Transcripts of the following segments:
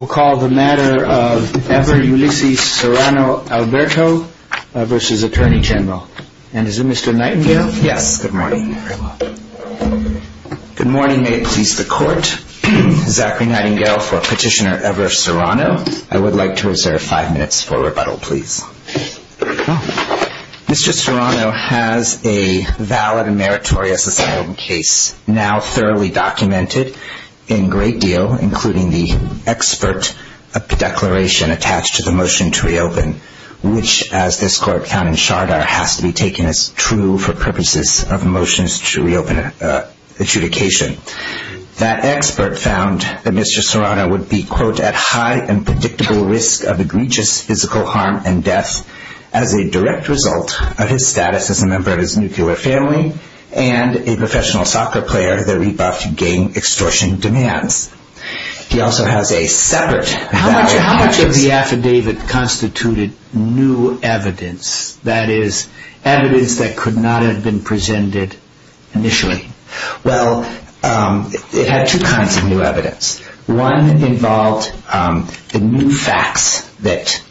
We'll call the matter of Ever Ulysses Serrano-Alberto v. Attorney General. And is it Mr. Nightingale? Yes, good morning. Good morning, may it please the Court. Zachary Nightingale for Petitioner Ever Serrano. I would like to reserve five minutes for rebuttal, please. Mr. Serrano has a valid and meritorious asylum case now thoroughly documented in great deal, including the expert declaration attached to the motion to reopen, which, as this Court found in Chardar, has to be taken as true for purposes of motions to reopen adjudication. That expert found that Mr. Serrano would be, quote, at high and predictable risk of egregious physical harm and death as a direct result of his status as a member of his nuclear family and a professional soccer player that rebuffed gang extortion demands. He also has a separate How much of the affidavit constituted new evidence, that is, evidence that could not have been presented initially? Well, it had two kinds of new evidence. One involved the new facts that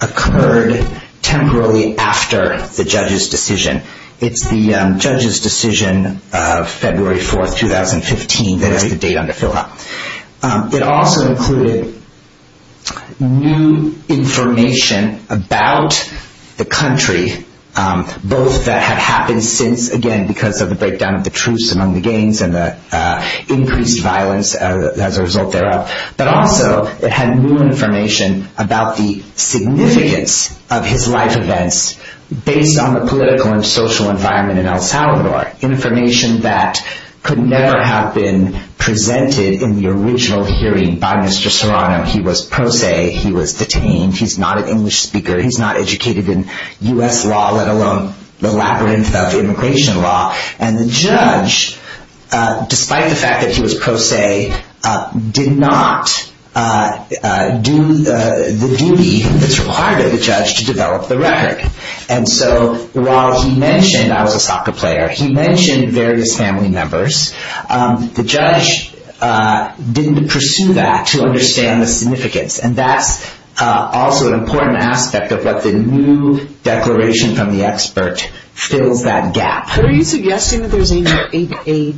occurred temporarily after the judge's decision. It's the judge's decision of February 4th, 2015. That is the date on the file. It also included new information about the country, both that had happened since, again, because of the breakdown of the truce among the gangs and the increased violence as a result thereof, but also it had new information about the significance of his life events based on the political and social environment in El Salvador, information that could never have been presented in the original hearing by Mr. Serrano. He was pro se. He was detained. He's not an English speaker. He's not educated in U.S. law, let alone the labyrinth of immigration law. And the judge, despite the fact that he was pro se, did not do the duty that's required of the judge to develop the record. And so while he mentioned I was a soccer player, he mentioned various family members, the judge didn't pursue that to understand the significance. And that's also an important aspect of what the new declaration from the expert fills that gap. But are you suggesting that there's a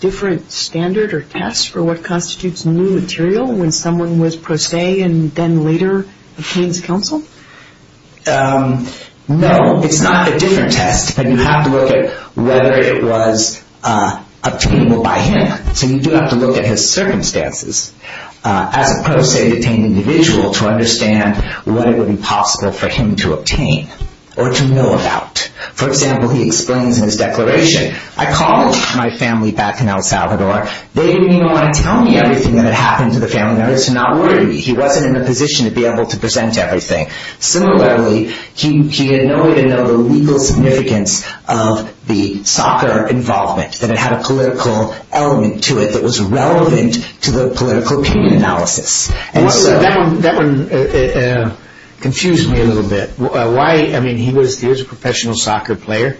different standard or test for what constitutes new information with pro se and then later obtained as counsel? No, it's not a different test. You have to look at whether it was obtainable by him. So you do have to look at his circumstances. As a pro se detained individual to understand what it would be possible for him to obtain or to know about. For example, he explains in his declaration, I called my family back in El Salvador. They didn't even want to tell me anything that had happened to the family members. He wasn't in a position to be able to present everything. Similarly, he had no way to know the legal significance of the soccer involvement, that it had a political element to it that was relevant to the political opinion analysis. That one confused me a little bit. Why, I mean, he was a professional soccer player.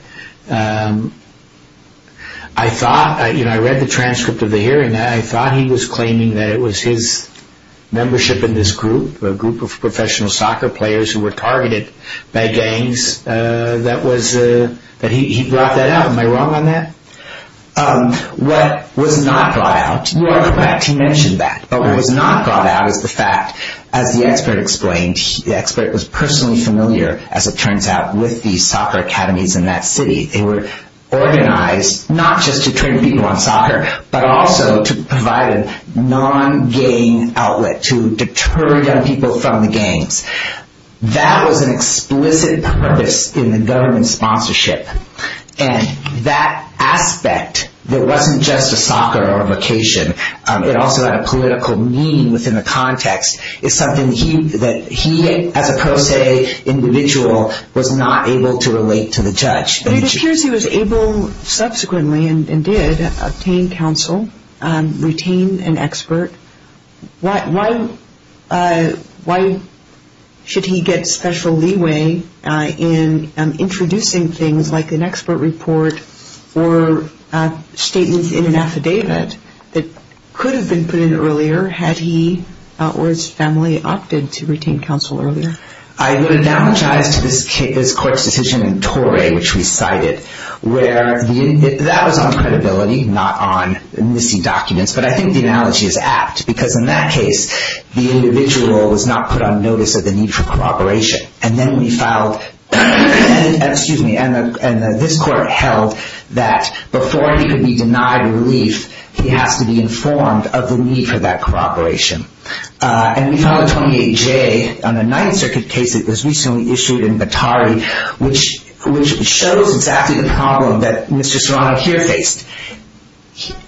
I thought, you know, I read the transcript of the hearing. I thought he was claiming that it was his membership in this group, a group of professional soccer players who were targeted by gangs, that he brought that out. Am I wrong on that? What was not brought out, in fact he mentioned that, but what was not brought out is the fact, as the expert explained, the expert was personally familiar, as it turns out, with the soccer academies in that city. They were organized not just to train people on soccer, but also to provide a non-gang outlet to deter young people from the gangs. That was an explicit purpose in the government sponsorship. And that aspect that wasn't just a soccer or a vocation, it also had a political meaning within the context, is something that he, as a pro se individual, was not able to relate to the judge. But it appears he was able, subsequently, and did, obtain counsel, retain an expert. Why should he get special leeway in introducing things like an expert report or statements in an affidavit that could have been put in earlier, had he or his family opted to retain counsel earlier? I would analogize to this court's decision in Torre, which we cited, where that was on credibility, not on missing documents. But I think the analogy is apt, because in that case, the individual was not put on notice of the need for cooperation. And then we filed, excuse me, and this court held that before he could be denied relief, he has to be informed of the need for that cooperation. And we filed a 28J on a Ninth Circuit case that was recently issued in Batari, which shows exactly the problem that Mr. Serrano here faced.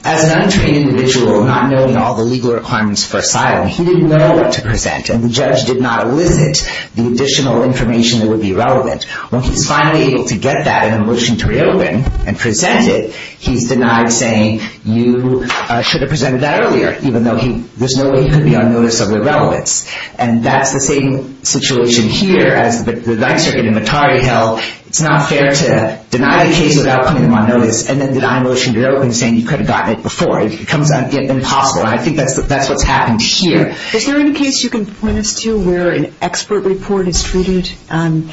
As an untrained individual, not knowing all the legal requirements for asylum, he didn't know what to present. And the judge did not elicit the additional information that would be relevant. When he's finally able to get that in a motion to reopen and present it, he's denied saying, you should have presented that earlier, even though there's no way he could be on notice of irrelevance. And that's the same situation here as the Ninth Circuit in Batari held, it's not fair to deny the case without putting him on notice and then deny a motion to reopen, saying you could have gotten it before. It becomes impossible. I think that's what's happened here. Is there any case you can point us to where an expert report is treated in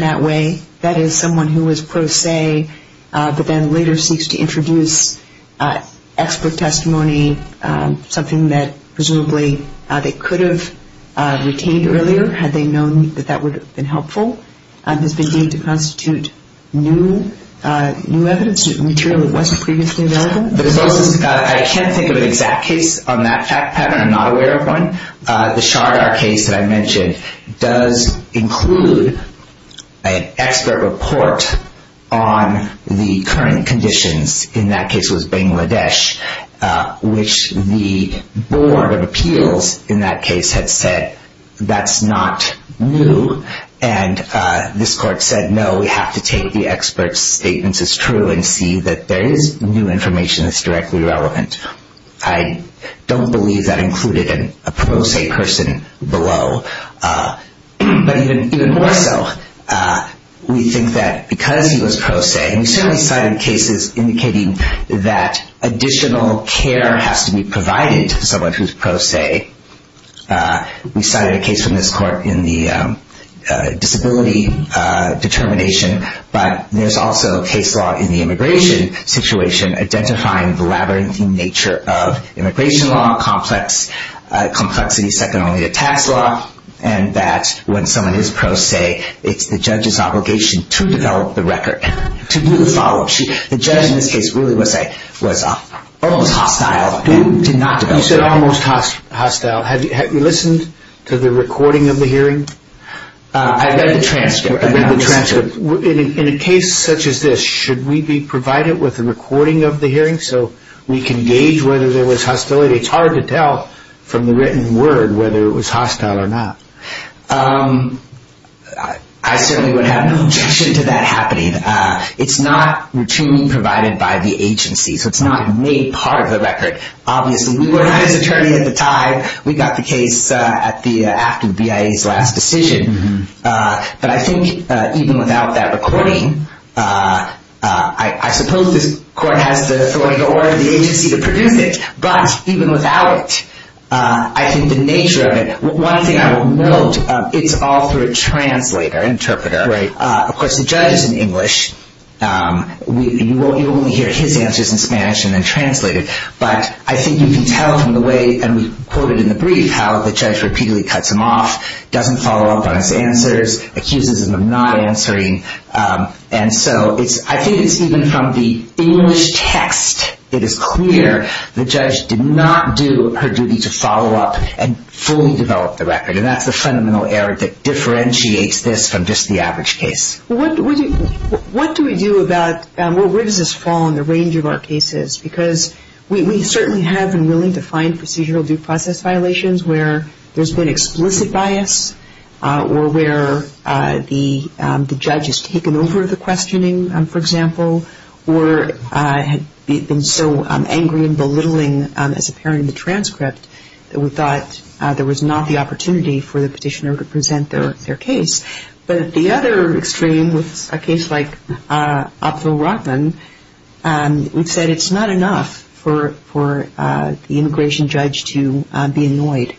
that way? That is, someone who was pro se, but then later seeks to introduce expert testimony, something that presumably they could have retained earlier, had they known that that would have been helpful, has been deemed to constitute new evidence, material that wasn't previously available? I can't think of an exact case on that fact pattern. I'm not aware of one. The Shardar case that I mentioned does include an expert report on the current conditions. In that case, it was Bangladesh, which the Board of Appeals in that case had said, that's not new. And this court said, no, we have to take the expert's statements as true and see that there is new information that's directly relevant. I don't believe that included a pro se person below. But even more so, we think that because he was pro se, and we certainly cited cases indicating that additional care has to be provided to someone who's pro se. We cited a case from this court in the disability determination, but there's also a case law in the immigration situation identifying the labyrinthine nature of immigration law, complexity second only to tax law, and that when someone is pro se, it's the judge's obligation to develop the record, to do the follow-up. The judge in this case really was almost hostile and did not develop the record. You said almost hostile. Have you listened to the recording of the hearing? I've got the transcript. In a case such as this, should we be provided with a recording of the hearing so we can gauge whether there was hostility? It's hard to tell from the written word whether it was hostile or not. I certainly would have no objection to that happening. It's not routinely provided by the agency, so it's not made part of the record. Obviously, we were his attorney at the time. We got the case after the BIA's last decision. I think even without that recording, I suppose this court has the authority or the agency to produce it, but even without it, I think the nature of it, one thing I will note, it's all through a translator, interpreter. Of course, the judge is in English. You only hear his answers in Spanish and then translated, but I think you can tell from the way, and we quoted in the brief, how the judge repeatedly cuts him off, doesn't follow up on his answers, accuses him of not answering, and so I think it's even from the English text, it is clear the judge did not do her duty to follow up and fully develop the record, and that's the fundamental error that differentiates this from just the average case. What do we do about, where does this fall in the range of our cases? Because we certainly have been willing to find procedural due process violations where there's been explicit bias or where the judge has taken over the questioning, for example, or had been so angry and belittling as appearing in the transcript that we thought there was not the opportunity for the petitioner to present their case. But at the other extreme, with a case like Abdulrahman, we've said it's not enough for the immigration judge to be annoyed.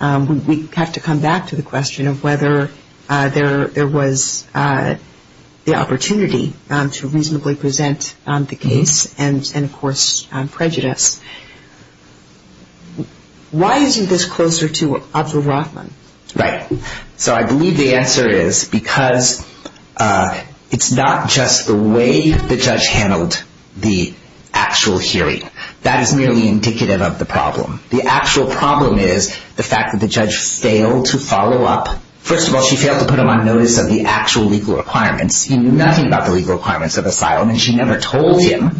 We have to come back to the question of whether there was the opportunity to reasonably present the case and, of course, prejudice. Why is this closer to Abdulrahman? Right. So I believe the answer is because it's not just the way the judge handled the actual hearing. That is merely indicative of the problem. The actual problem is the fact that the judge failed to follow up. First of all, she failed to put him on notice of the actual legal requirements. He knew nothing about the legal requirements of asylum, and she never told him.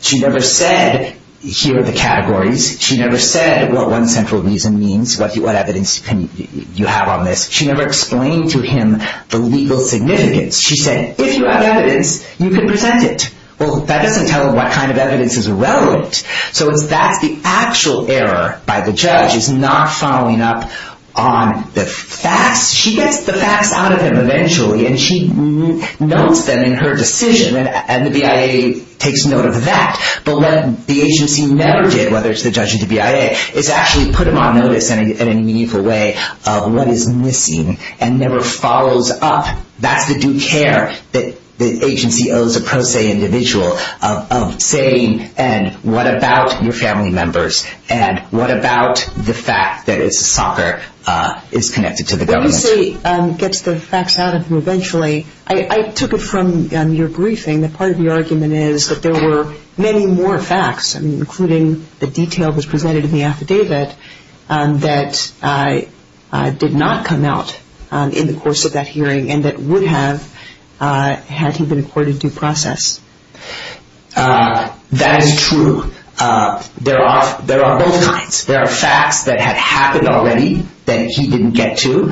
She never said, here are the categories, she never said what one central reason means, what evidence you have on this. She never explained to him the legal significance. She said, if you have evidence, you can present it. Well, that doesn't tell him what kind of evidence is relevant. So that's the actual error by the judge, is not following up on the facts. She gets the facts out of him eventually, and she notes them in her decision, and the BIA takes note of that. But what the agency never did, whether it's the judge or the BIA, is actually put him on notice in a meaningful way of what is missing, and never follows up. That's the due care that the agency owes a pro se individual, of saying, and what about your family members, and what about the fact that it's soccer, is connected to the government. When you say gets the facts out of him eventually, I took it from your briefing that part of the argument is that there were many more facts, including the detail that was presented in the affidavit, that did not come out in the course of that hearing, and that would have, had he been accorded due process. That is true. There are both kinds. There are facts that had happened already, that he didn't get to.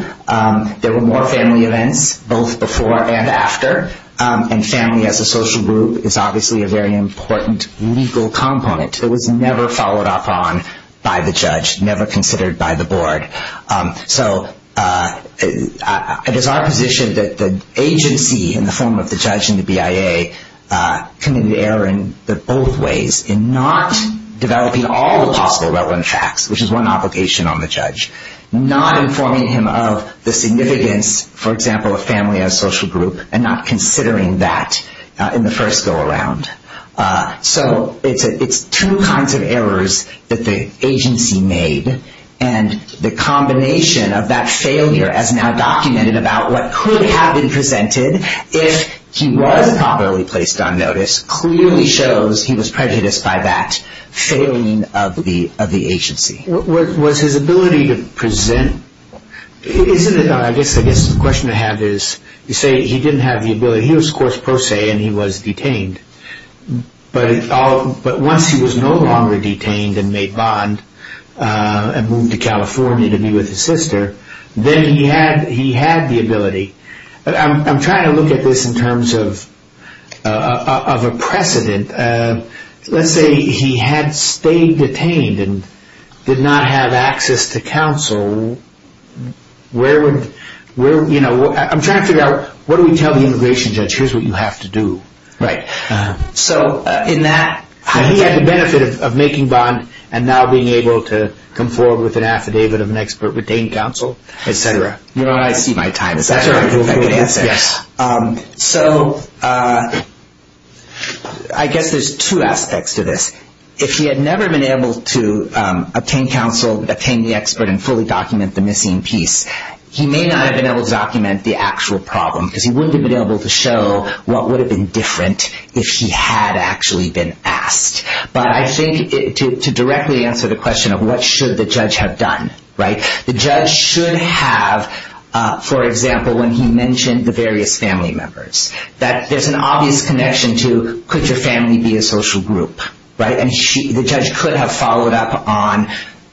There were more family events, both before and after, and family as a social group is obviously a very important legal component that was never followed up on by the judge, never considered by the board. So it is our position that the agency, in the form of the judge and the BIA, committed error in both ways, in not developing all the possible relevant facts, which is one obligation on the judge. Not informing him of the significance, for example, of family as a social group, and not considering that in the first go-around. So it is two kinds of errors that the agency made, and the combination of that failure as now documented about what could have been presented, if he was properly placed on notice, clearly shows he was prejudiced by that failing of the agency. Was his ability to present, isn't it, I guess the question to have is, you say he didn't have the ability, he was course pro se, and he was detained. But once he was no longer detained and made bond, and moved to California to be with his sister, then he had the ability. I'm trying to look at this in terms of a precedent. Let's say he had stayed detained, and the agency did not have access to counsel. I'm trying to figure out, what do we tell the immigration judge, here's what you have to do. So in that, he had the benefit of making bond, and now being able to come forward with an affidavit of an expert, retained counsel, et cetera. I see my time, that's a good answer. So I guess there's two aspects to this. If he had never been able to obtain counsel, obtain the expert, and fully document the missing piece, he may not have been able to document the actual problem, because he wouldn't have been able to show what would have been different if he had actually been asked. But I think to directly answer the question of what should the judge have done, the judge should have, for example, when he mentioned the various family members, that there's an obvious connection to, could your family be a social group? And the judge could have followed up on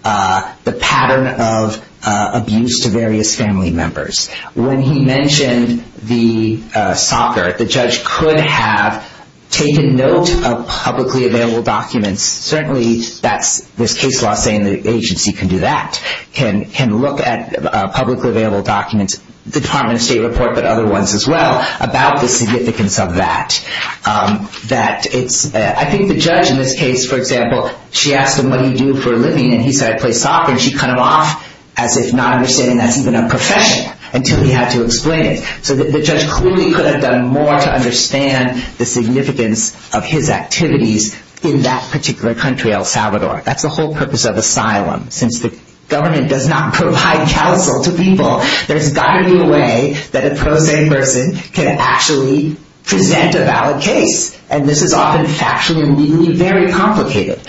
the pattern of abuse to various family members. When he mentioned the soccer, the judge could have taken note of publicly available documents. Certainly, there's case law saying the agency can do that, can look at publicly available documents, the Department of State report, but other ones as well, about the significance of that. I think the judge in this case, for example, she asked him what he'd do for a living, and he said, I play soccer. And she cut him off as if not understanding that's even a profession, until he had to explain it. So the judge clearly could have done more to understand the significance of his activities in that particular country, El Salvador. That's the whole purpose of asylum, since the government does not provide counsel to people. There's got to be a way that a pro se person can actually present a valid case. And this is often factually and legally very complicated.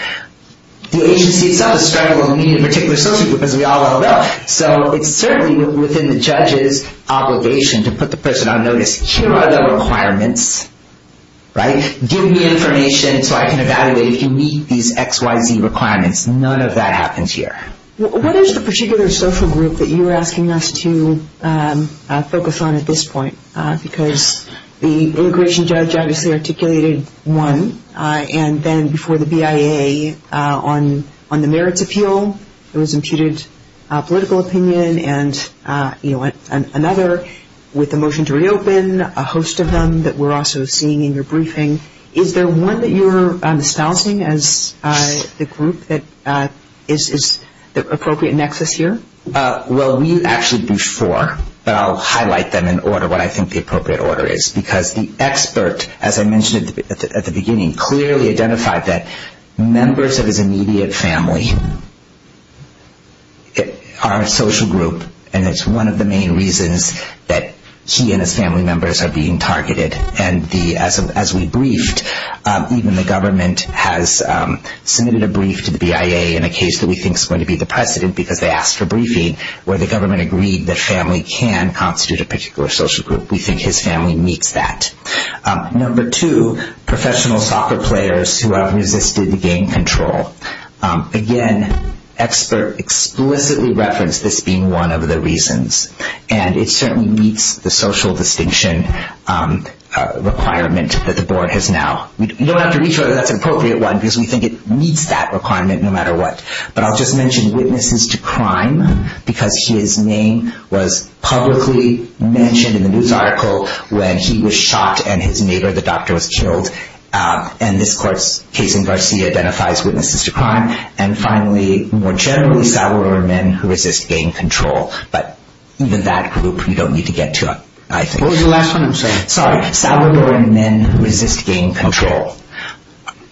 The agency itself is struggling with meeting a particular social group, as we all well know. So it's certainly within the judge's obligation to put the person on notice, here are the requirements. Give me information so I can evaluate if you meet these XYZ requirements. None of that happens here. What is the particular social group that you're asking us to focus on at this point? Because the immigration judge obviously articulated one, and then before the BIA on the merits appeal, there was imputed political opinion, and another with a motion to reopen, a host of them that we're also seeing in your briefing. Is there one that you're espousing as the group that is the appropriate nexus here? Well, we actually do four, but I'll highlight them in order what I think the appropriate order is. Because the expert, as I mentioned at the beginning, clearly identified that members of his immediate family are a social group, and it's one of the main reasons that he and his family members are being targeted. And as we briefed, even the government has submitted a brief to the BIA in a case that we think is going to be the precedent, because they asked for briefing, where the government agreed that family can constitute a particular social group. We think his family meets that. Number two, professional soccer players who have resisted the game control. Again, expert explicitly referenced this being one of the reasons, and it certainly meets the social distinction requirement that the board has now. You don't have to reach whether that's an appropriate one, because we think it meets that requirement no matter what. But I'll just mention witnesses to crime, because his name was publicly mentioned in the news article when he was shot and his neighbor, the doctor, was killed. And this court's case in Garcia identifies witnesses to crime. And finally, more generally, salver men who resist gang control. But even that group you don't need to get to, I think. What was the last one I'm saying? Sorry. Salver men who resist gang control.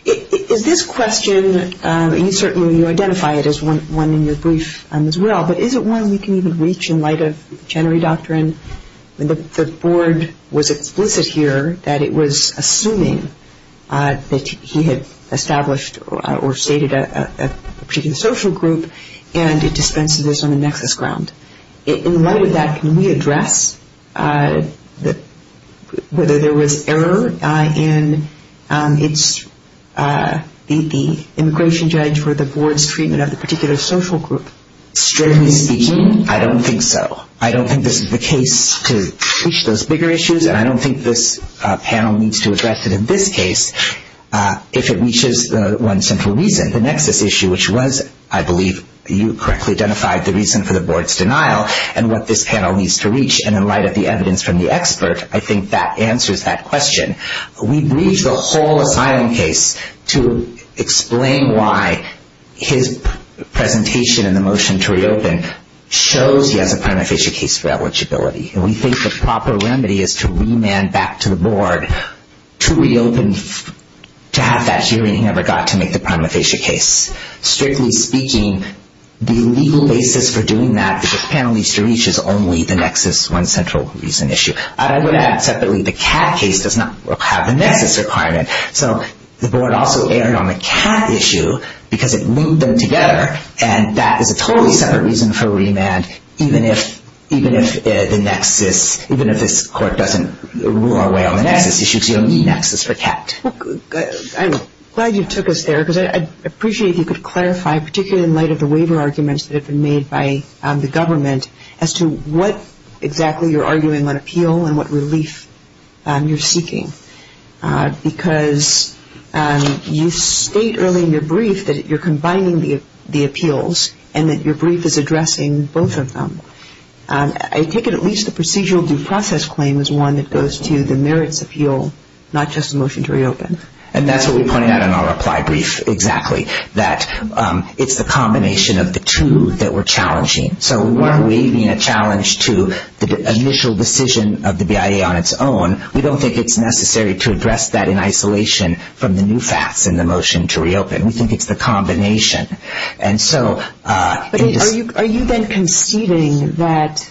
Is this question, and you certainly identify it as one in your brief as well, but is it one we can even reach in light of Chenery Doctrine? The board was explicit here that it was assuming that he had established or stated a particular social group, and it dispenses this on the nexus ground. In light of that, can we address whether there was error in the immigration judge for the board's treatment of the particular social group? Strictly speaking, I don't think so. I don't think this is the case to reach those bigger issues, and I don't think this panel needs to address it in this case if it reaches one central reason, the nexus issue, which was, I believe you correctly identified, the reason for the board's denial and what this panel needs to reach. And in light of the evidence from the expert, I think that answers that question. We breach the whole asylum case to explain why his presentation in the motion to reopen shows he has a prima facie case for eligibility. We think the proper remedy is to remand back to the board to reopen, to have that hearing he never got to make the prima facie case. Strictly speaking, the legal basis for doing that, which this panel needs to reach, is only the nexus one central reason issue. I would add separately, the CAT case does not have the nexus requirement. So the board also erred on the CAT issue because it linked them together, and that is a totally separate reason for remand, even if the nexus, even if this court doesn't rule our way on the nexus issue, it's the only nexus for CAT. I'm glad you took us there because I'd appreciate if you could clarify, particularly in light of the waiver arguments that have been made by the government, as to what exactly you're arguing on appeal and what relief you're seeking. Because you state early in your brief that you're combining the appeals and that your brief is addressing both of them. I take it at least the procedural due process claim is one that goes to the merits appeal, not just the motion to reopen. And that's what we pointed out in our reply brief, exactly. That it's the combination of the two that we're challenging. So we weren't waiving a challenge to the initial decision of the BIA on its own. We don't think it's necessary to address that in isolation from the new facts in the motion to reopen. We think it's the combination. But are you then conceding that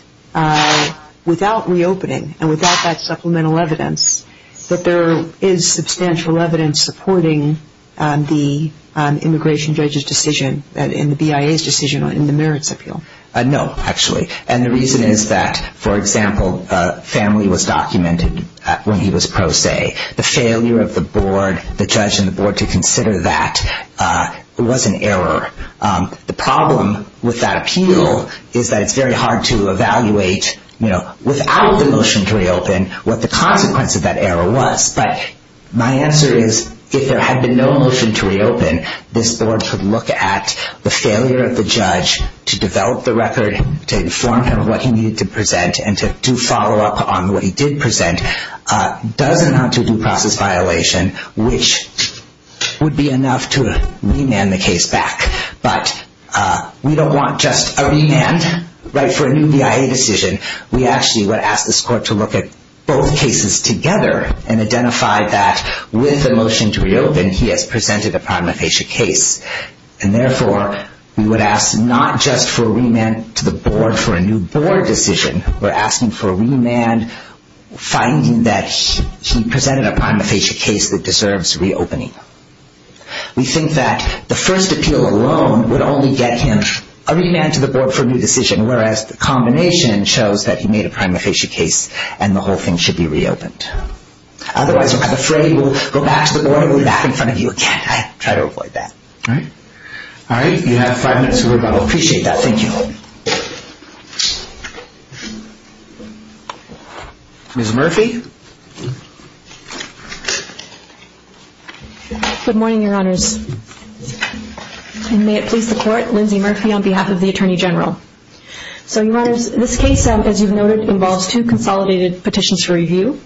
without reopening and without that supplemental evidence, that there is substantial evidence supporting the immigration judge's decision and the BIA's decision in the merits appeal? No, actually. And the reason is that, for example, family was documented when he was pro se. The failure of the board, the judge and the board, to consider that was an error. The problem with that appeal is that it's very hard to evaluate without the motion to reopen what the consequence of that error was. But my answer is, if there had been no motion to reopen, this board could look at the failure of the judge to develop the record, to inform him of what he needed to present, and to do follow up on what he did present. It does amount to a due process violation, which would be enough to remand the case back. But we don't want just a remand, right, for a new BIA decision. We actually would ask this court to look at both cases together and identify that, with the motion to reopen, he has presented a prognostication case. And therefore, we would ask not just for a remand to the board for a new board decision. We're asking for a remand, finding that he presented a prima facie case that deserves reopening. We think that the first appeal alone would only get him a remand to the board for a new decision, whereas the combination shows that he made a prima facie case and the whole thing should be reopened. Otherwise, I'm afraid we'll go back to the board and go back in front of you again. I try to avoid that. All right. You have five minutes to rebuttal. Appreciate that. Thank you. Ms. Murphy? Good morning, Your Honors. And may it please the Court, Lindsay Murphy on behalf of the Attorney General. So, Your Honors, this case, as you've noted, involves two consolidated petitions for review.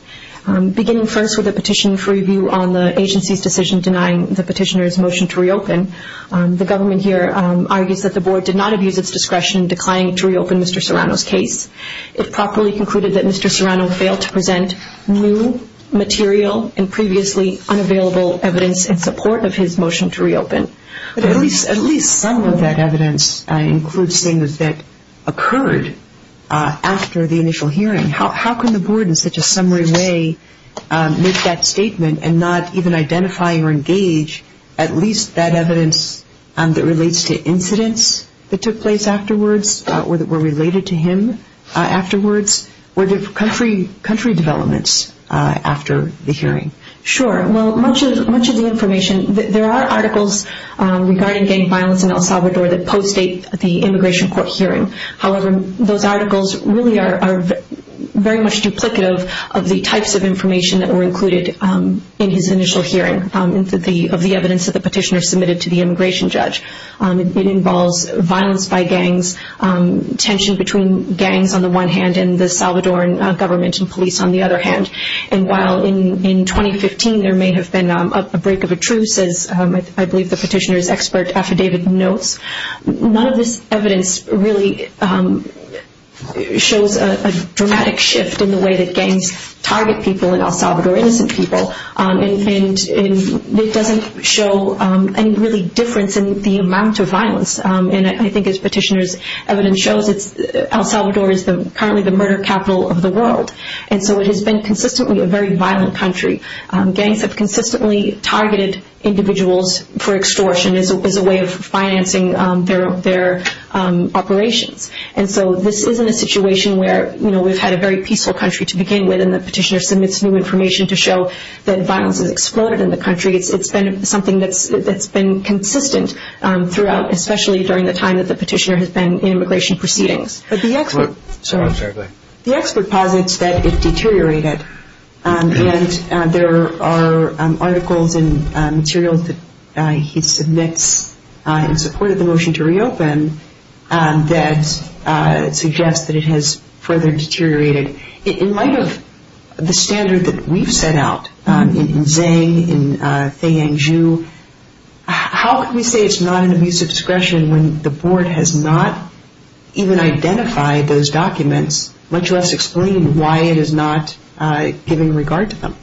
Beginning first with a petition for review on the agency's decision denying the petitioner's motion to reopen, the government here argues that the board did not abuse its discretion in declining to reopen Mr. Serrano's case. It properly concluded that Mr. Serrano failed to present new material and previously unavailable evidence in support of his motion to reopen. At least some of that evidence includes things that occurred after the initial hearing. How can the board in such a summary way make that statement and not even identify or engage at least that evidence that relates to incidents that took place afterwards or that were related to him afterwards or country developments after the hearing? Sure. Well, much of the information, there are articles regarding gang violence in El Salvador that post-date the immigration court hearing. However, those articles really are very much duplicative of the types of information that of the evidence that the petitioner submitted to the immigration judge. It involves violence by gangs, tension between gangs on the one hand and the Salvadoran government and police on the other hand. And while in 2015 there may have been a break of a truce, as I believe the petitioner's expert affidavit notes, none of this evidence really shows a dramatic shift in the way that it doesn't show any really difference in the amount of violence. And I think as petitioner's evidence shows, El Salvador is currently the murder capital of the world. And so it has been consistently a very violent country. Gangs have consistently targeted individuals for extortion as a way of financing their operations. And so this isn't a situation where we've had a very peaceful country to begin with and the petitioner submits new information to show that violence has exploded in the country. It's been something that's been consistent throughout, especially during the time that the petitioner has been in immigration proceedings. But the expert posits that it deteriorated. And there are articles and materials that he submits in support of the motion to reopen that suggest that it has further deteriorated. In light of the standard that we've set out, in Zhang, in Thien Ju, how can we say it's not an abuse of discretion when the board has not even identified those documents, much less explained why it is not given regard to them?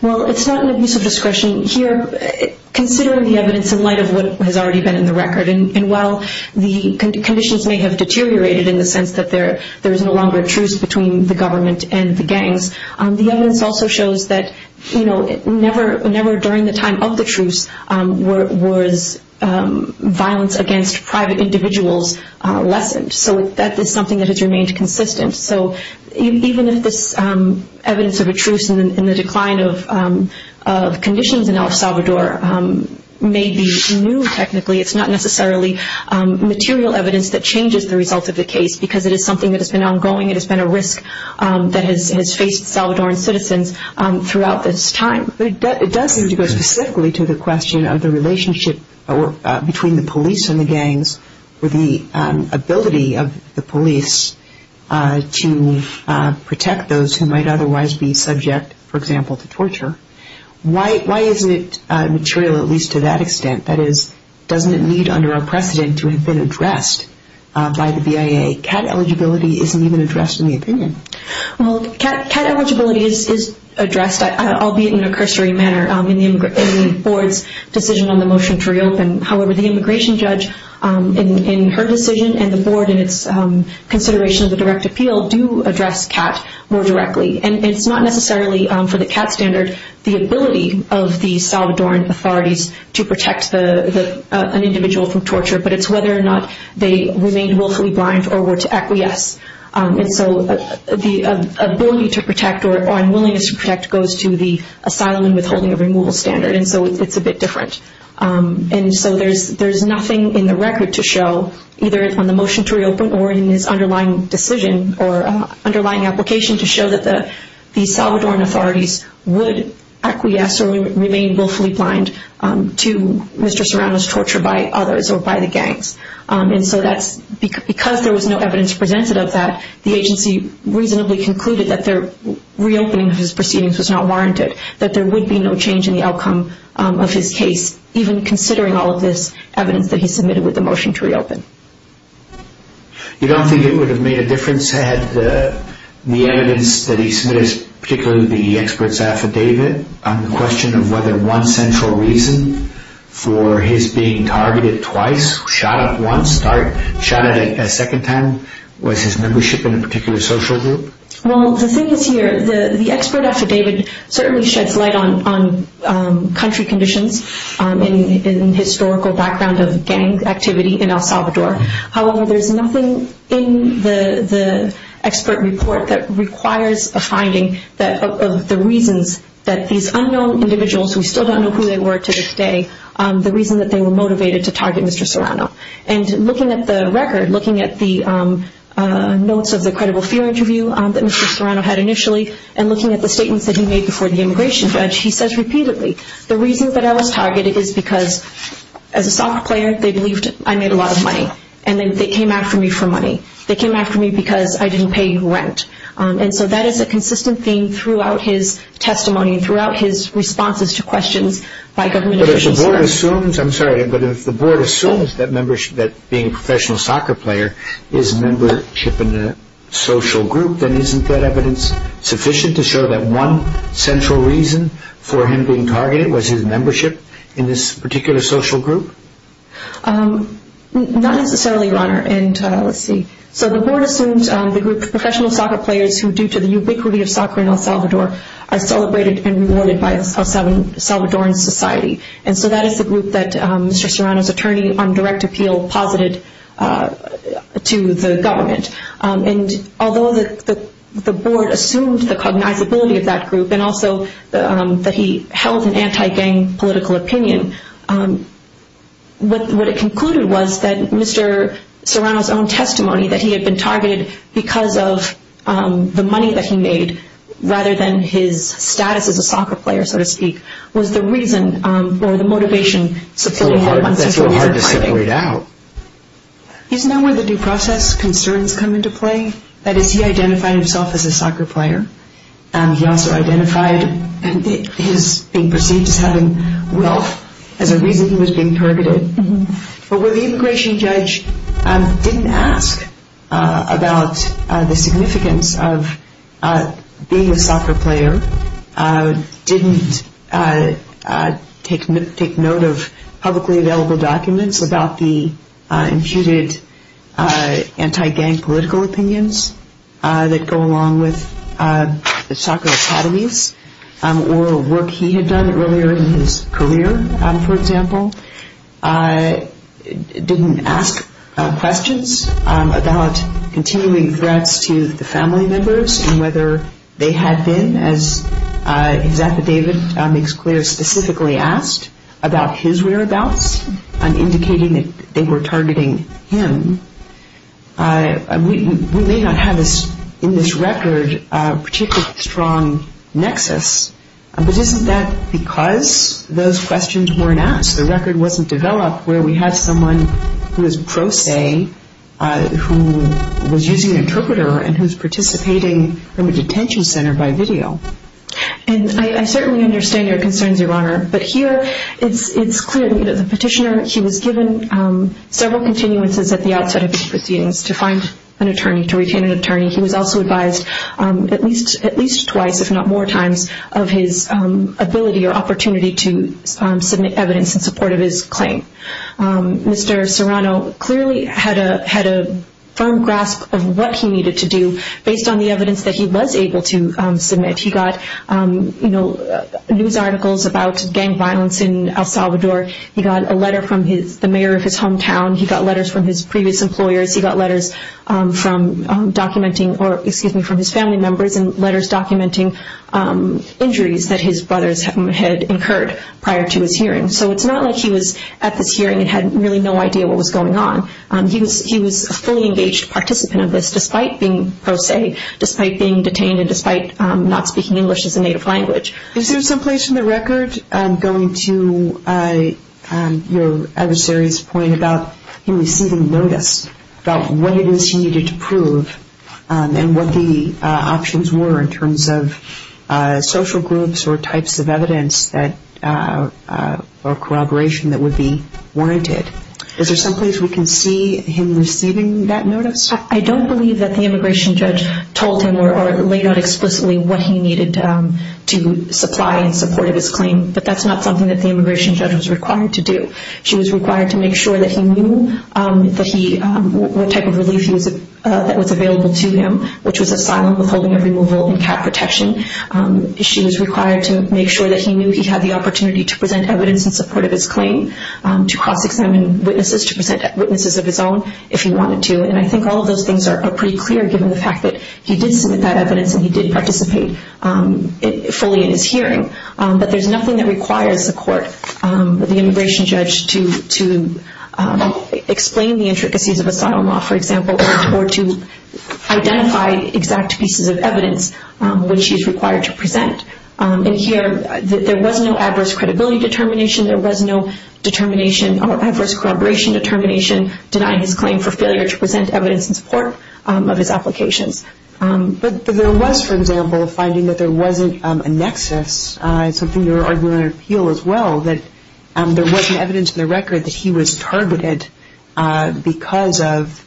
Well, it's not an abuse of discretion here, considering the evidence in light of what has already been in the record. And while the conditions may have deteriorated in the sense that there is no longer a truce between the government and the gangs, the evidence also shows that never during the time of the truce was violence against private individuals lessened. So that is something that has remained consistent. So even if this evidence of a truce and the decline of conditions in El Salvador may be new technically, it's not necessarily material evidence that changes the results of the case because it is something that has been ongoing. It has been a risk that has faced Salvadoran citizens throughout this time. But it does seem to go specifically to the question of the relationship between the police and the gangs with the ability of the police to protect those who might otherwise be subject, for example, to torture. Why isn't it material, at least to that extent? That is, doesn't it need under our precedent to have been addressed by the BIA? CAT eligibility isn't even addressed in the opinion. Well, CAT eligibility is addressed, albeit in a cursory manner, in the board's decision on the motion to reopen. However, the immigration judge in her decision and the board in its consideration of the direct appeal do address CAT more directly. And it's not necessarily, for the CAT standard, the ability of the Salvadoran authorities to protect an individual from torture, but it's whether or not they remained willfully blind or were to acquiesce. And so the ability to protect or unwillingness to protect goes to the asylum and withholding of removal standard. And so it's a bit different. And so there's nothing in the record to show, either on the motion to reopen or in this underlying decision or underlying application to show that the Salvadoran authorities would acquiesce or remain willfully blind to Mr. Serrano's torture by others or by the gangs. And so that's because there was no evidence presented of that, the agency reasonably concluded that their reopening of his proceedings was not warranted, that there would be no change in the outcome of his case, even considering all of this evidence that he submitted with the motion to reopen. You don't think it would have made a difference had the evidence that he submitted, particularly the expert's affidavit, on the question of whether one central reason for his being targeted twice, shot at once, shot at a second time, was his membership in a particular social group? Well, the thing is here, the expert affidavit certainly sheds light on country conditions and historical background of gang activity in El Salvador. However, there's nothing in the expert report that requires a finding of the reasons that these unknown individuals, we still don't know who they were to this day, the reason that they were motivated to target Mr. Serrano. And looking at the record, looking at the notes of the credible fear interview that Mr. Serrano had initially and looking at the statements that he made before the immigration judge, he says repeatedly, the reason that I was targeted is because, as a soccer player, they believed I made a lot of money. And then they came after me for money. They came after me because I didn't pay rent. And so that is a consistent theme throughout his testimony and throughout his responses to questions by government officials. But if the board assumes, I'm sorry, but if the board assumes that membership, that being a professional soccer player is membership in a social group, then isn't that evidence sufficient to show that one central reason for him being targeted was his membership in this particular social group? Not necessarily, Your Honor. And let's see. So the board assumes the group of professional soccer players who, due to the ubiquity of soccer in El Salvador, are celebrated and rewarded by El Salvadoran society. And so that is the group that Mr. Serrano's attorney on direct appeal posited to the government. And although the board assumed the cognizability of that group and also that he held an anti-gang political opinion, what it concluded was that Mr. Serrano's own testimony that he had been targeted because of the money that he made, rather than his status as a soccer player, so to speak, was the reason or the motivation. That's a little hard to separate out. Isn't that where the due process concerns come into play? That is, he identified himself as a soccer player. He also identified his being perceived as having wealth as a reason he was being targeted. But where the immigration judge didn't ask about the significance of being a soccer player, didn't take note of publicly available documents about the imputed anti-gang political opinions that go along with the soccer academies, or work he had done earlier in his career, for example, didn't ask questions about continuing threats to the family members and whether they had been, as his affidavit makes clear, specifically asked about his whereabouts and indicating that they were targeting him. We may not have in this record a particularly strong nexus, but isn't that because those questions weren't asked? The record wasn't developed where we had someone who was pro se, who was using an interpreter and who was participating from a detention center by video. I certainly understand your concerns, Your Honor, but here it's clear that the petitioner, he was given several continuances at the outset of his proceedings to find an attorney, to retain an attorney. He was also advised at least twice, if not more times, of his ability or opportunity to submit evidence in support of his claim. Mr. Serrano clearly had a firm grasp of what he needed to do based on the evidence that he was able to submit. He got news articles about gang violence in El Salvador. He got a letter from the mayor of his hometown. He got letters from his previous employers. He got letters from his family members and letters documenting injuries that his brothers had incurred prior to his hearing. So it's not like he was at this hearing and had really no idea what was going on. He was a fully engaged participant of this despite being pro se, despite being detained, and despite not speaking English as a native language. Is there someplace in the record going to your adversary's point about him receiving notice about what it is he needed to prove and what the options were in terms of social groups or types of evidence or corroboration that would be warranted? Is there someplace we can see him receiving that notice? I don't believe that the immigration judge told him or laid out explicitly what he needed to supply in support of his claim, but that's not something that the immigration judge was required to do. She was required to make sure that he knew what type of relief that was available to him, which was asylum, withholding of removal, and cap protection. She was required to make sure that he knew he had the opportunity to present evidence in support of his claim, to cross-examine witnesses, to present witnesses of his own if he wanted to. And I think all of those things are pretty clear given the fact that he did submit that evidence and he did participate fully in his hearing. But there's nothing that requires the court, the immigration judge, to explain the intricacies of asylum law, for example, or to identify exact pieces of evidence which he's required to present. And here, there was no adverse credibility determination. There was no adverse corroboration determination denying his claim for failure to present evidence in support of his applications. But there was, for example, a finding that there wasn't a nexus, something you were arguing in your appeal as well, that there wasn't evidence in the record that he was targeted because of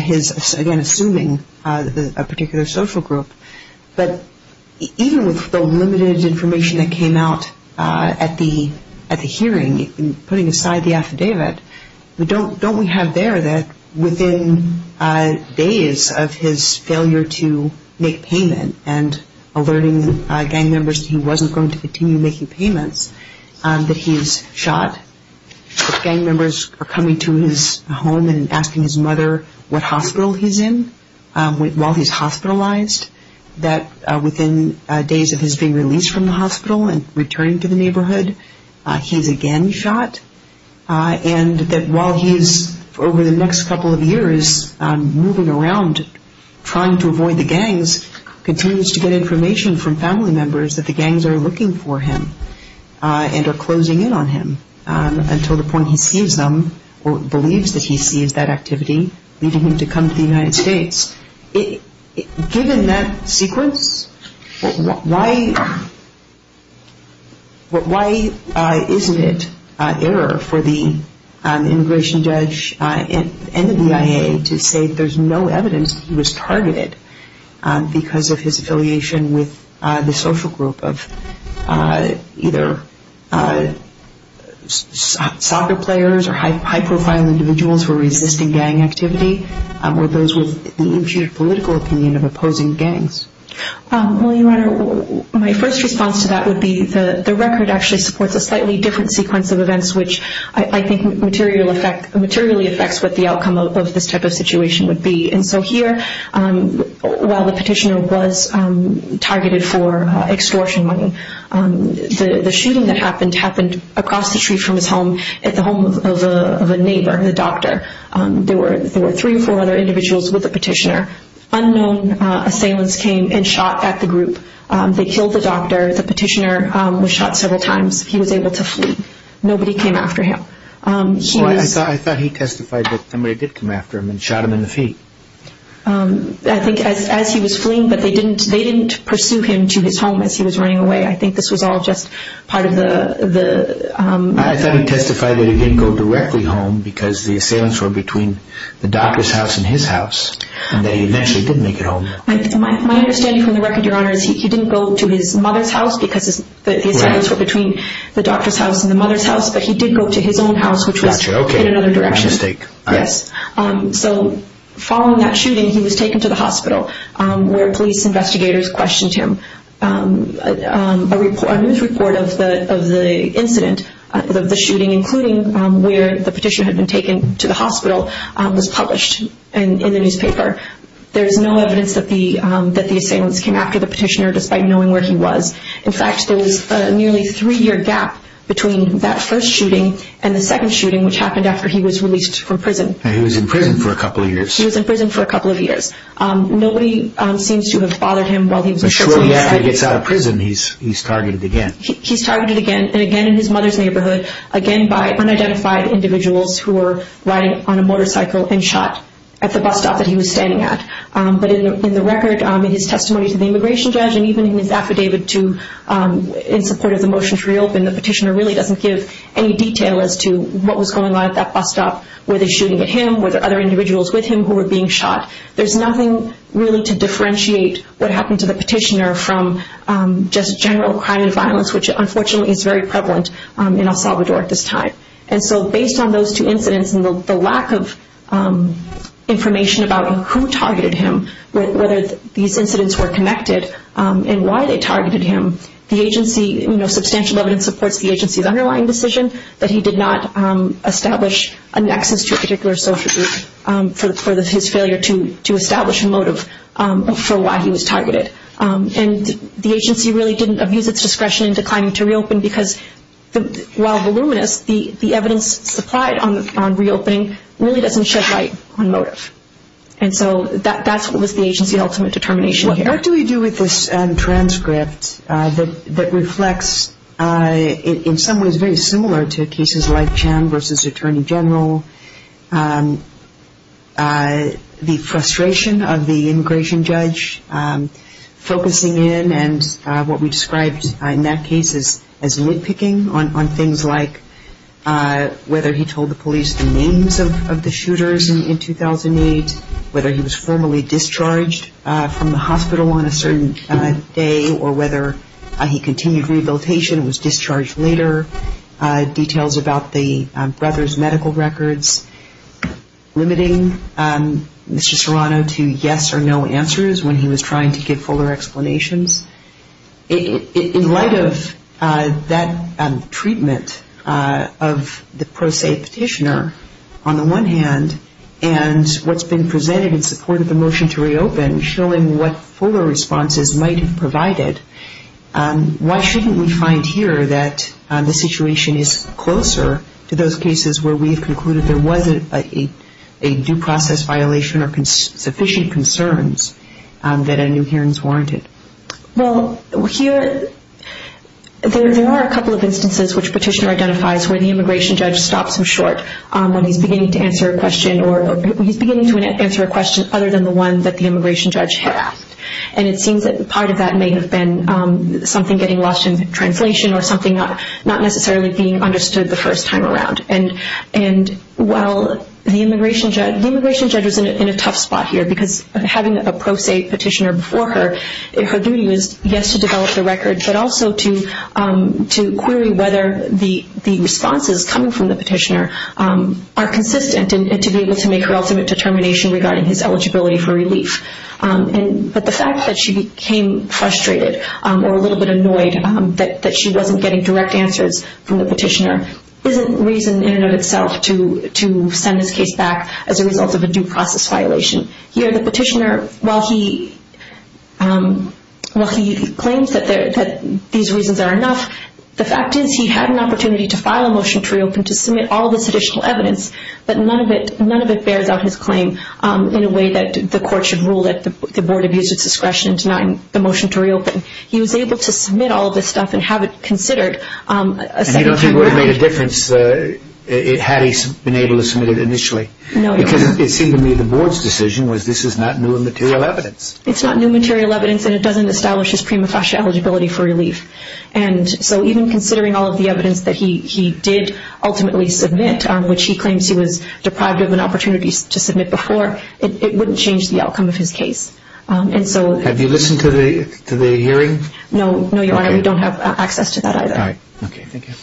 his, again, assuming a particular social group. But even with the limited information that came out at the hearing, putting aside the affidavit, don't we have there that within days of his failure to make payment and alerting gang members that he wasn't going to continue making payments, that he's shot? Gang members are coming to his home and asking his mother what hospital he's in while he's hospitalized, that within days of his being released from the hospital and returning to the neighborhood, he's again shot? And that while he's, over the next couple of years, moving around trying to avoid the gangs, continues to get information from family members that the gangs are looking for him and are closing in on him until the point he sees them or believes that he sees that activity, leading him to come to the United States. Given that sequence, why isn't it error for the immigration judge and the BIA to say there's no evidence that he was targeted because of his affiliation with the social group of either soccer players or high-profile individuals who are resisting gang activity or those with the infuriated political opinion of opposing gangs? Well, Your Honor, my first response to that would be the record actually supports a slightly different sequence of events which I think materially affects what the outcome of this type of situation would be. And so here, while the petitioner was targeted for extortion money, the shooting that happened happened across the street from his home at the home of a neighbor, the doctor. There were three or four other individuals with the petitioner. Unknown assailants came and shot at the group. They killed the doctor. The petitioner was shot several times. He was able to flee. Nobody came after him. I thought he testified that somebody did come after him and shot him in the feet. I think as he was fleeing, but they didn't pursue him to his home as he was running away. I think this was all just part of the... I thought he testified that he didn't go directly home because the assailants were between the doctor's house and his house and that he eventually did make it home. My understanding from the record, Your Honor, is he didn't go to his mother's house because the assailants were between the doctor's house and the mother's house, but he did go to his own house, which was in another direction. My mistake. Yes. So following that shooting, he was taken to the hospital where police investigators questioned him. A news report of the incident, of the shooting, including where the petitioner had been taken to the hospital, was published in the newspaper. There is no evidence that the assailants came after the petitioner despite knowing where he was. In fact, there was a nearly three-year gap between that first shooting and the second shooting, which happened after he was released from prison. He was in prison for a couple of years. He was in prison for a couple of years. Nobody seems to have bothered him while he was in prison. But shortly after he gets out of prison, he's targeted again. He's targeted again, and again in his mother's neighborhood, again by unidentified individuals who were riding on a motorcycle and shot at the bus stop that he was standing at. But in the record, in his testimony to the immigration judge and even in his affidavit in support of the motion to reopen, the petitioner really doesn't give any detail as to what was going on at that bus stop. Were they shooting at him? Were there other individuals with him who were being shot? There's nothing really to differentiate what happened to the petitioner from just general crime and violence, which unfortunately is very prevalent in El Salvador at this time. And so based on those two incidents and the lack of information about who targeted him, whether these incidents were connected, and why they targeted him, the agency, you know, substantial evidence supports the agency's underlying decision that he did not establish a nexus to a particular social group for his failure to establish a motive for why he was targeted. And the agency really didn't abuse its discretion in declining to reopen because while voluminous, the evidence supplied on reopening really doesn't shed light on motive. And so that's what was the agency's ultimate determination here. What do we do with this transcript that reflects, in some ways, very similar to cases like Chan v. Attorney General, the frustration of the immigration judge focusing in, and what we described in that case as nitpicking on things like whether he told the police the names of the shooters in 2008, whether he was formally discharged from the hospital on a certain day, or whether he continued rehabilitation and was discharged later, details about the brothers' medical records, limiting Mr. Serrano to yes or no answers when he was trying to give fuller explanations. In light of that treatment of the pro se petitioner, on the one hand, and what's been presented in support of the motion to reopen, showing what fuller responses might have provided, why shouldn't we find here that the situation is closer to those cases where we've concluded there wasn't a due process violation or sufficient concerns that a new hearing's warranted? Well, there are a couple of instances which petitioner identifies where the immigration judge stops him short when he's beginning to answer a question other than the one that the immigration judge had asked. And it seems that part of that may have been something getting lost in translation or something not necessarily being understood the first time around. And while the immigration judge was in a tough spot here because having a pro se petitioner before her, her duty was, yes, to develop the records, but also to query whether the responses coming from the petitioner are consistent and to be able to make her ultimate determination regarding his eligibility for relief. But the fact that she became frustrated or a little bit annoyed that she wasn't getting direct answers from the petitioner isn't reason in and of itself to send this case back as a result of a due process violation. Here, the petitioner, while he claims that these reasons are enough, the fact is he had an opportunity to file a motion to reopen, to submit all this additional evidence, but none of it bears out his claim in a way that the court should rule that the board abused its discretion in denying the motion to reopen. He was able to submit all of this stuff and have it considered a second time around. And you don't think it would have made a difference had he been able to submit it initially? No. Because it seemed to me the board's decision was this is not new material evidence. It's not new material evidence and it doesn't establish his prima facie eligibility for relief. And so even considering all of the evidence that he did ultimately submit, which he claims he was deprived of an opportunity to submit before, it wouldn't change the outcome of his case. Have you listened to the hearing? No, Your Honor. We don't have access to that either. All right. Okay. Thank you.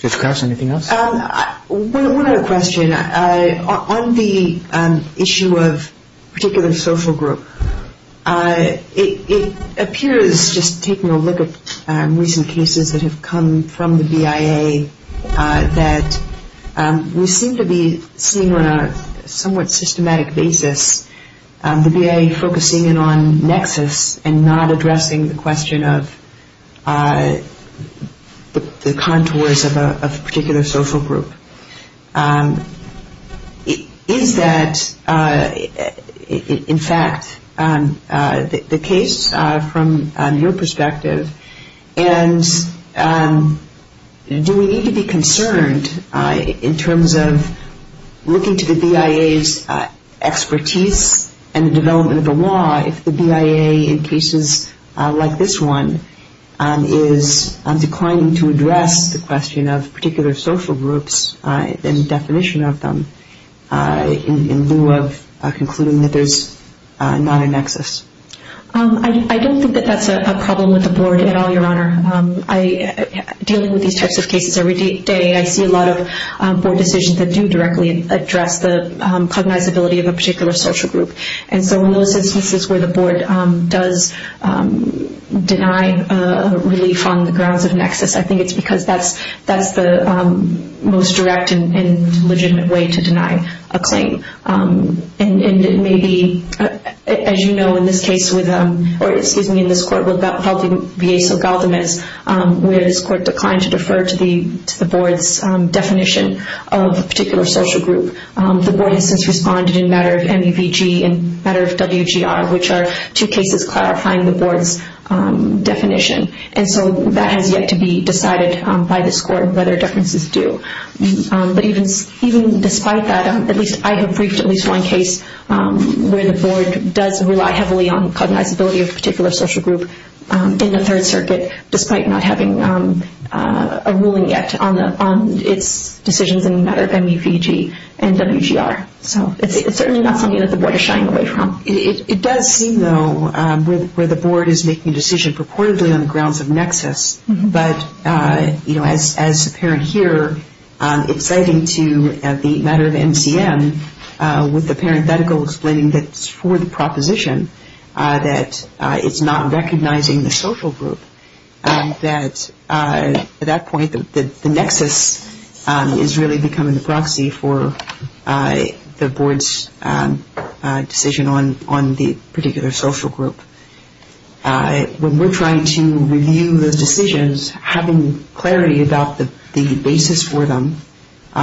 Judge Krause, anything else? One other question. On the issue of particular social group, it appears just taking a look at recent cases that have come from the BIA that we seem to be seeing on a somewhat systematic basis the BIA focusing in on nexus and not addressing the question of the contours of a particular social group. Is that in fact the case from your perspective? And do we need to be concerned in terms of looking to the BIA's expertise and the development of the law if the BIA in cases like this one is declining to address the question of particular social groups and definition of them in lieu of concluding that there's not a nexus? I don't think that that's a problem with the Board at all, Your Honor. Dealing with these types of cases every day, I see a lot of Board decisions that do directly address the cognizability of a particular social group. And so in those instances where the Board does deny relief on the grounds of nexus, I think it's because that's the most direct and legitimate way to deny a claim. And it may be, as you know, in this case with, or excuse me, in this court with Valdivieso-Galdamez, where this court declined to defer to the Board's definition of a particular social group. The Board has since responded in matter of MUVG and matter of WGR, which are two cases clarifying the Board's definition. And so that has yet to be decided by this court whether deference is due. But even despite that, at least I have briefed at least one case where the Board does rely heavily on cognizability of a particular social group in the Third Circuit despite not having a ruling yet on its decisions in matter of MUVG. And WGR. So it's certainly not something that the Board is shying away from. It does seem, though, where the Board is making a decision purportedly on the grounds of nexus. But, you know, as apparent here, it's citing to the matter of MCM with the parenthetical explaining that it's for the proposition that it's not recognizing the social group. At that point, the nexus is really becoming the proxy for the Board's decision on the particular social group. When we're trying to review those decisions, having clarity about the basis for them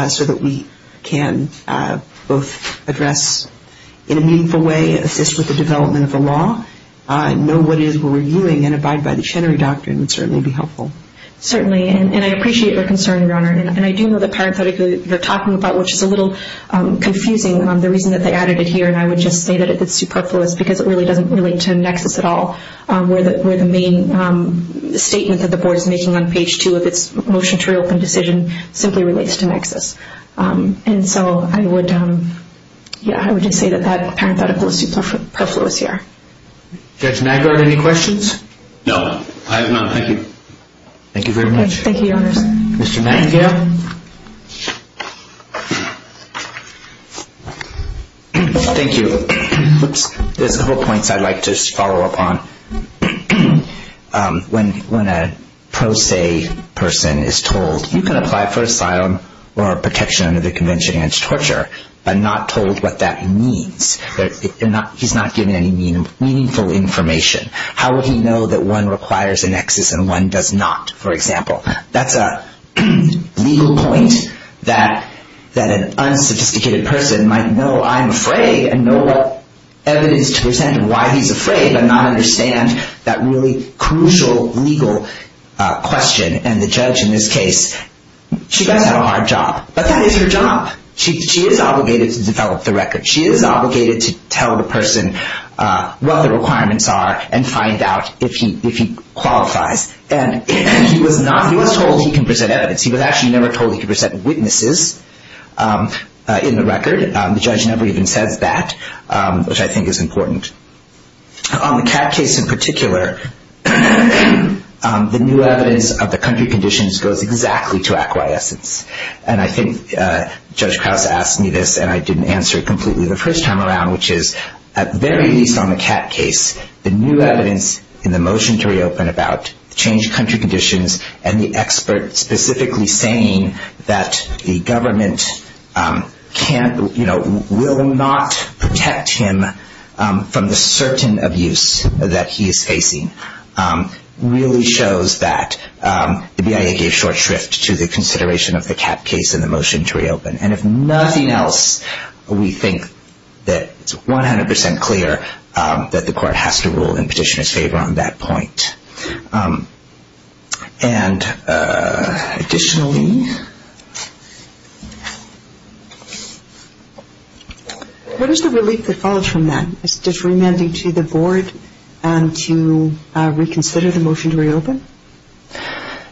so that we can both address in a meaningful way, assist with the development of the law, know what it is we're reviewing, and abide by the Chenery Doctrine would certainly be helpful. Certainly, and I appreciate your concern, Your Honor. And I do know the parenthetical you're talking about, which is a little confusing, the reason that they added it here, and I would just say that it's superfluous because it really doesn't relate to nexus at all, where the main statement that the Board is making on page 2 of its motion to reopen decision simply relates to nexus. And so I would just say that that parenthetical is superfluous here. Judge Maggard, any questions? No, I have none. Thank you. Thank you very much. Thank you, Your Honors. Mr. Mattingly? Thank you. There's a couple points I'd like to follow up on. One, when a pro se person is told, you can apply for asylum or protection under the Convention Against Torture, but not told what that means. He's not given any meaningful information. How would he know that one requires a nexus and one does not, for example? That's a legal point that an unsophisticated person might know I'm afraid and know what evidence to present and why he's afraid but not understand that really crucial legal question. And the judge in this case, she does have a hard job, but that is her job. She is obligated to develop the record. She is obligated to tell the person what the requirements are and find out if he qualifies. And he was told he can present evidence. He was actually never told he could present witnesses in the record. The judge never even says that, which I think is important. On the CAT case in particular, the new evidence of the country conditions goes exactly to acquiescence. And I think Judge Krause asked me this, and I didn't answer it completely the first time around, which is, at the very least on the CAT case, the new evidence in the motion to reopen about the changed country conditions and the expert specifically saying that the government will not protect him from the certain abuse that he is facing really shows that the BIA gave short shrift to the consideration of the CAT case in the motion to reopen. And if nothing else, we think that it's 100% clear that the court has to rule in petitioner's favor on that point. And additionally... What is the relief that follows from that? Is it remanding to the board to reconsider the motion to reopen?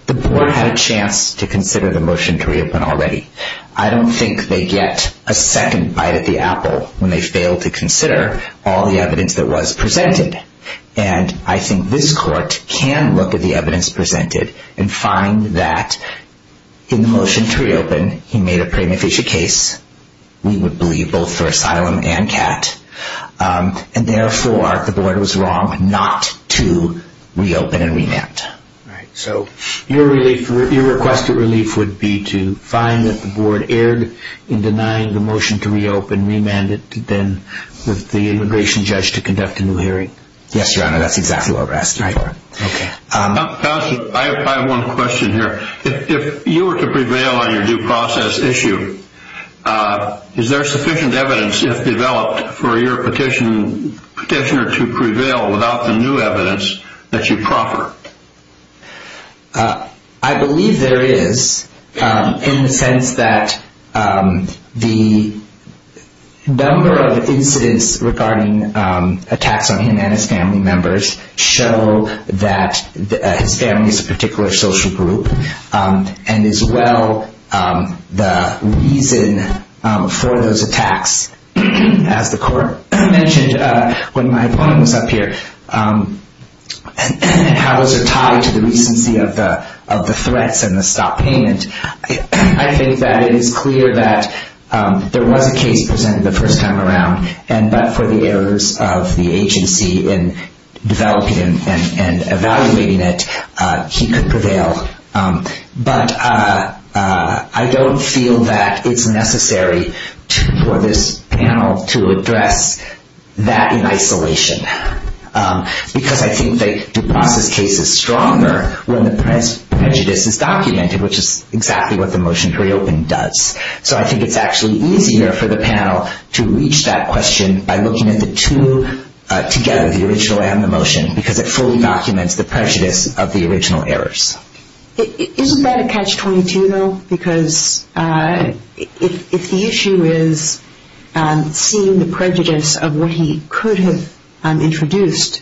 The board had a chance to consider the motion to reopen already. I don't think they get a second bite of the apple when they fail to consider all the evidence that was presented. And I think this court can look at the evidence presented and find that in the motion to reopen, he made a prima facie case. We would believe both for asylum and CAT. And therefore, the board was wrong not to reopen and remand. So your request of relief would be to find that the board erred in denying the motion to reopen, and remand it to the immigration judge to conduct a new hearing? Yes, Your Honor, that's exactly what we're asking for. Okay. Counsel, I have one question here. If you were to prevail on your due process issue, is there sufficient evidence, if developed, for your petitioner to prevail without the new evidence that you proffered? I believe there is, in the sense that the number of incidents regarding attacks on him and his family members show that his family is a particular social group, and as well, the reason for those attacks. As the court mentioned when my opponent was up here, how those are tied to the recency of the threats and the stop payment, I think that it is clear that there was a case presented the first time around, but for the errors of the agency in developing and evaluating it, he could prevail. But I don't feel that it's necessary for this panel to address that in isolation, because I think the due process case is stronger when the prejudice is documented, which is exactly what the motion to reopen does. So I think it's actually easier for the panel to reach that question by looking at the two together, the original and the motion, because it fully documents the prejudice of the original errors. Isn't that a catch-22, though? Because if the issue is seeing the prejudice of what he could have introduced,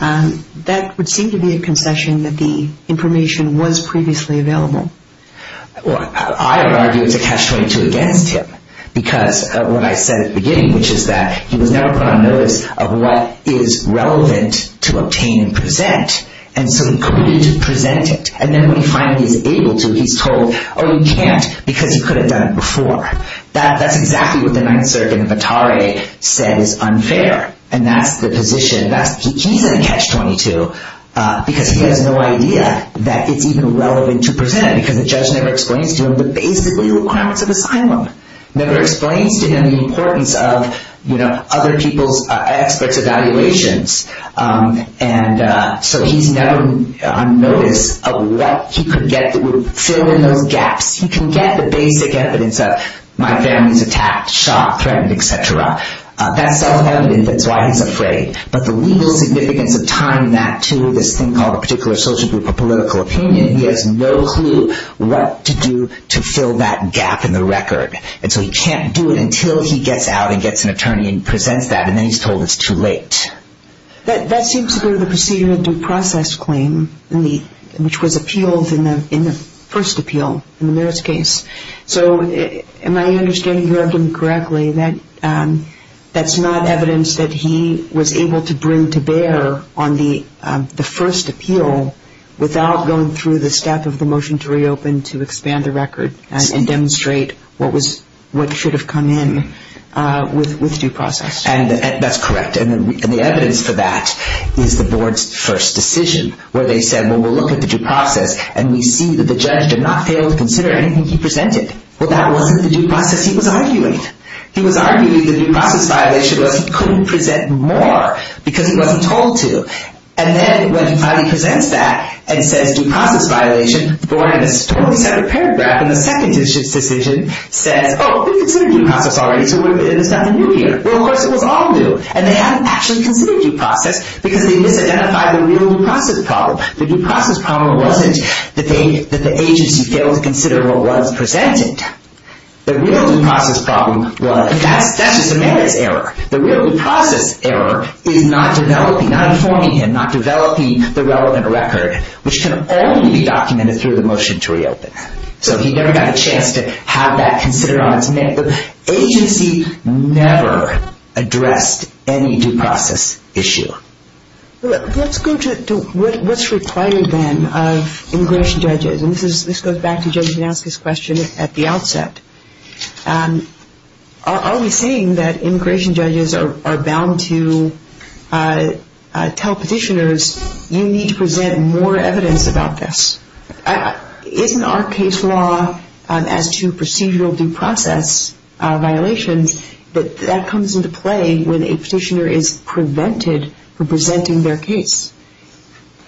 that would seem to be a concession that the information was previously available. Well, I would argue it's a catch-22 against him, because of what I said at the beginning, which is that he was never put on notice of what is relevant to obtain and present, and so he couldn't present it. And then when he finally is able to, he's told, oh, you can't, because you could have done it before. That's exactly what the Ninth Circuit in Petare says is unfair, and that's the position. He's in a catch-22, because he has no idea that it's even relevant to present it, because the judge never explains to him the basic requirements of asylum, never explains to him the importance of other people's experts' evaluations, and so he's never on notice of what he could get that would fill in those gaps. He can get the basic evidence of, my family's attacked, shot, threatened, et cetera. That's self-evident. That's why he's afraid. But the legal significance of tying that to this thing called a particular social group or political opinion, he has no clue what to do to fill that gap in the record, and so he can't do it until he gets out and gets an attorney and presents that, and then he's told it's too late. That seems to go to the Procedure of Due Process claim, which was appealed in the first appeal, in the Meares case. So am I understanding you correctly that that's not evidence that he was able to bring to bear on the first appeal without going through the step of the motion to reopen to expand the record and demonstrate what should have come in with due process? That's correct, and the evidence for that is the board's first decision, where they said, well, we'll look at the due process and we see that the judge did not fail to consider anything he presented. Well, that wasn't the due process he was arguing. He was arguing the due process violation was he couldn't present more because he wasn't told to, and then when he presents that and says due process violation, the board in a totally separate paragraph in the second decision says, oh, we considered due process already, so it's nothing new here. Well, of course, it was all new, and they hadn't actually considered due process because they misidentified the real due process problem. The due process problem wasn't the thing that the agency failed to consider what was presented. The real due process problem was that's just a Meares error. The real due process error is not developing, not informing him, not developing the relevant record, which can only be documented through the motion to reopen. So he never got a chance to have that considered. The agency never addressed any due process issue. Let's go to what's required, then, of immigration judges, and this goes back to Judge Gnansky's question at the outset. Are we saying that immigration judges are bound to tell petitioners, you need to present more evidence about this? Isn't our case law as to procedural due process violations, that that comes into play when a petitioner is prevented from presenting their case?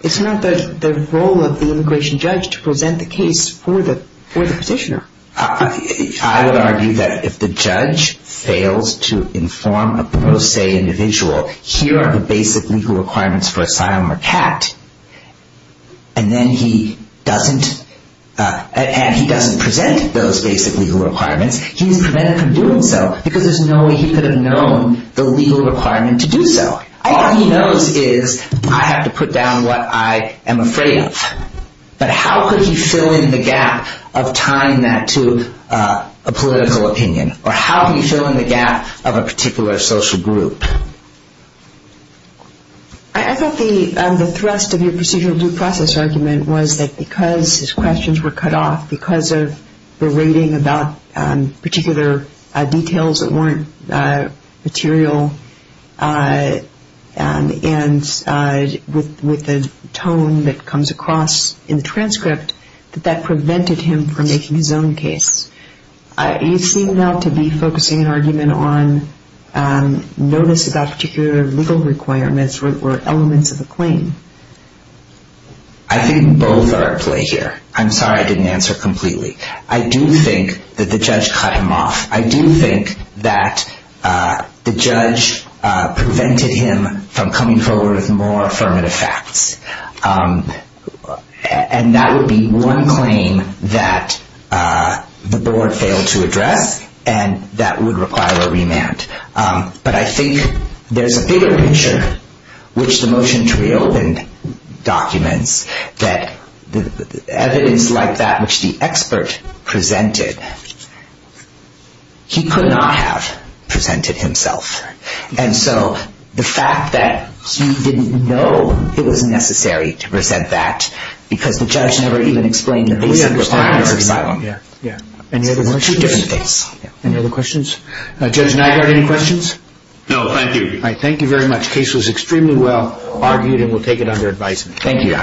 It's not the role of the immigration judge to present the case for the petitioner. I would argue that if the judge fails to inform a pro se individual, here are the basic legal requirements for asylum or CAT, and then he doesn't present those basic legal requirements, he's prevented from doing so because there's no way he could have known the legal requirement to do so. All he knows is I have to put down what I am afraid of. But how could he fill in the gap of tying that to a political opinion, or how can he fill in the gap of a particular social group? I thought the thrust of your procedural due process argument was that because his questions were cut off, because of the rating about particular details that weren't material, and with the tone that comes across in the transcript, that that prevented him from making his own case. You seem not to be focusing an argument on notice about particular legal requirements or elements of a claim. I think both are at play here. I'm sorry I didn't answer completely. I do think that the judge cut him off. I do think that the judge prevented him from coming forward with more affirmative facts. And that would be one claim that the board failed to address, and that would require a remand. But I think there's a bigger picture, which the motion to reopen documents, that evidence like that which the expert presented, he could not have presented himself. And so the fact that he didn't know it was necessary to present that, because the judge never even explained the basic requirements of asylum. Any other questions? Judge Nygaard, any questions? No, thank you. Thank you very much. The case was extremely well argued, and we'll take it under advisement. Thank you, Your Honor.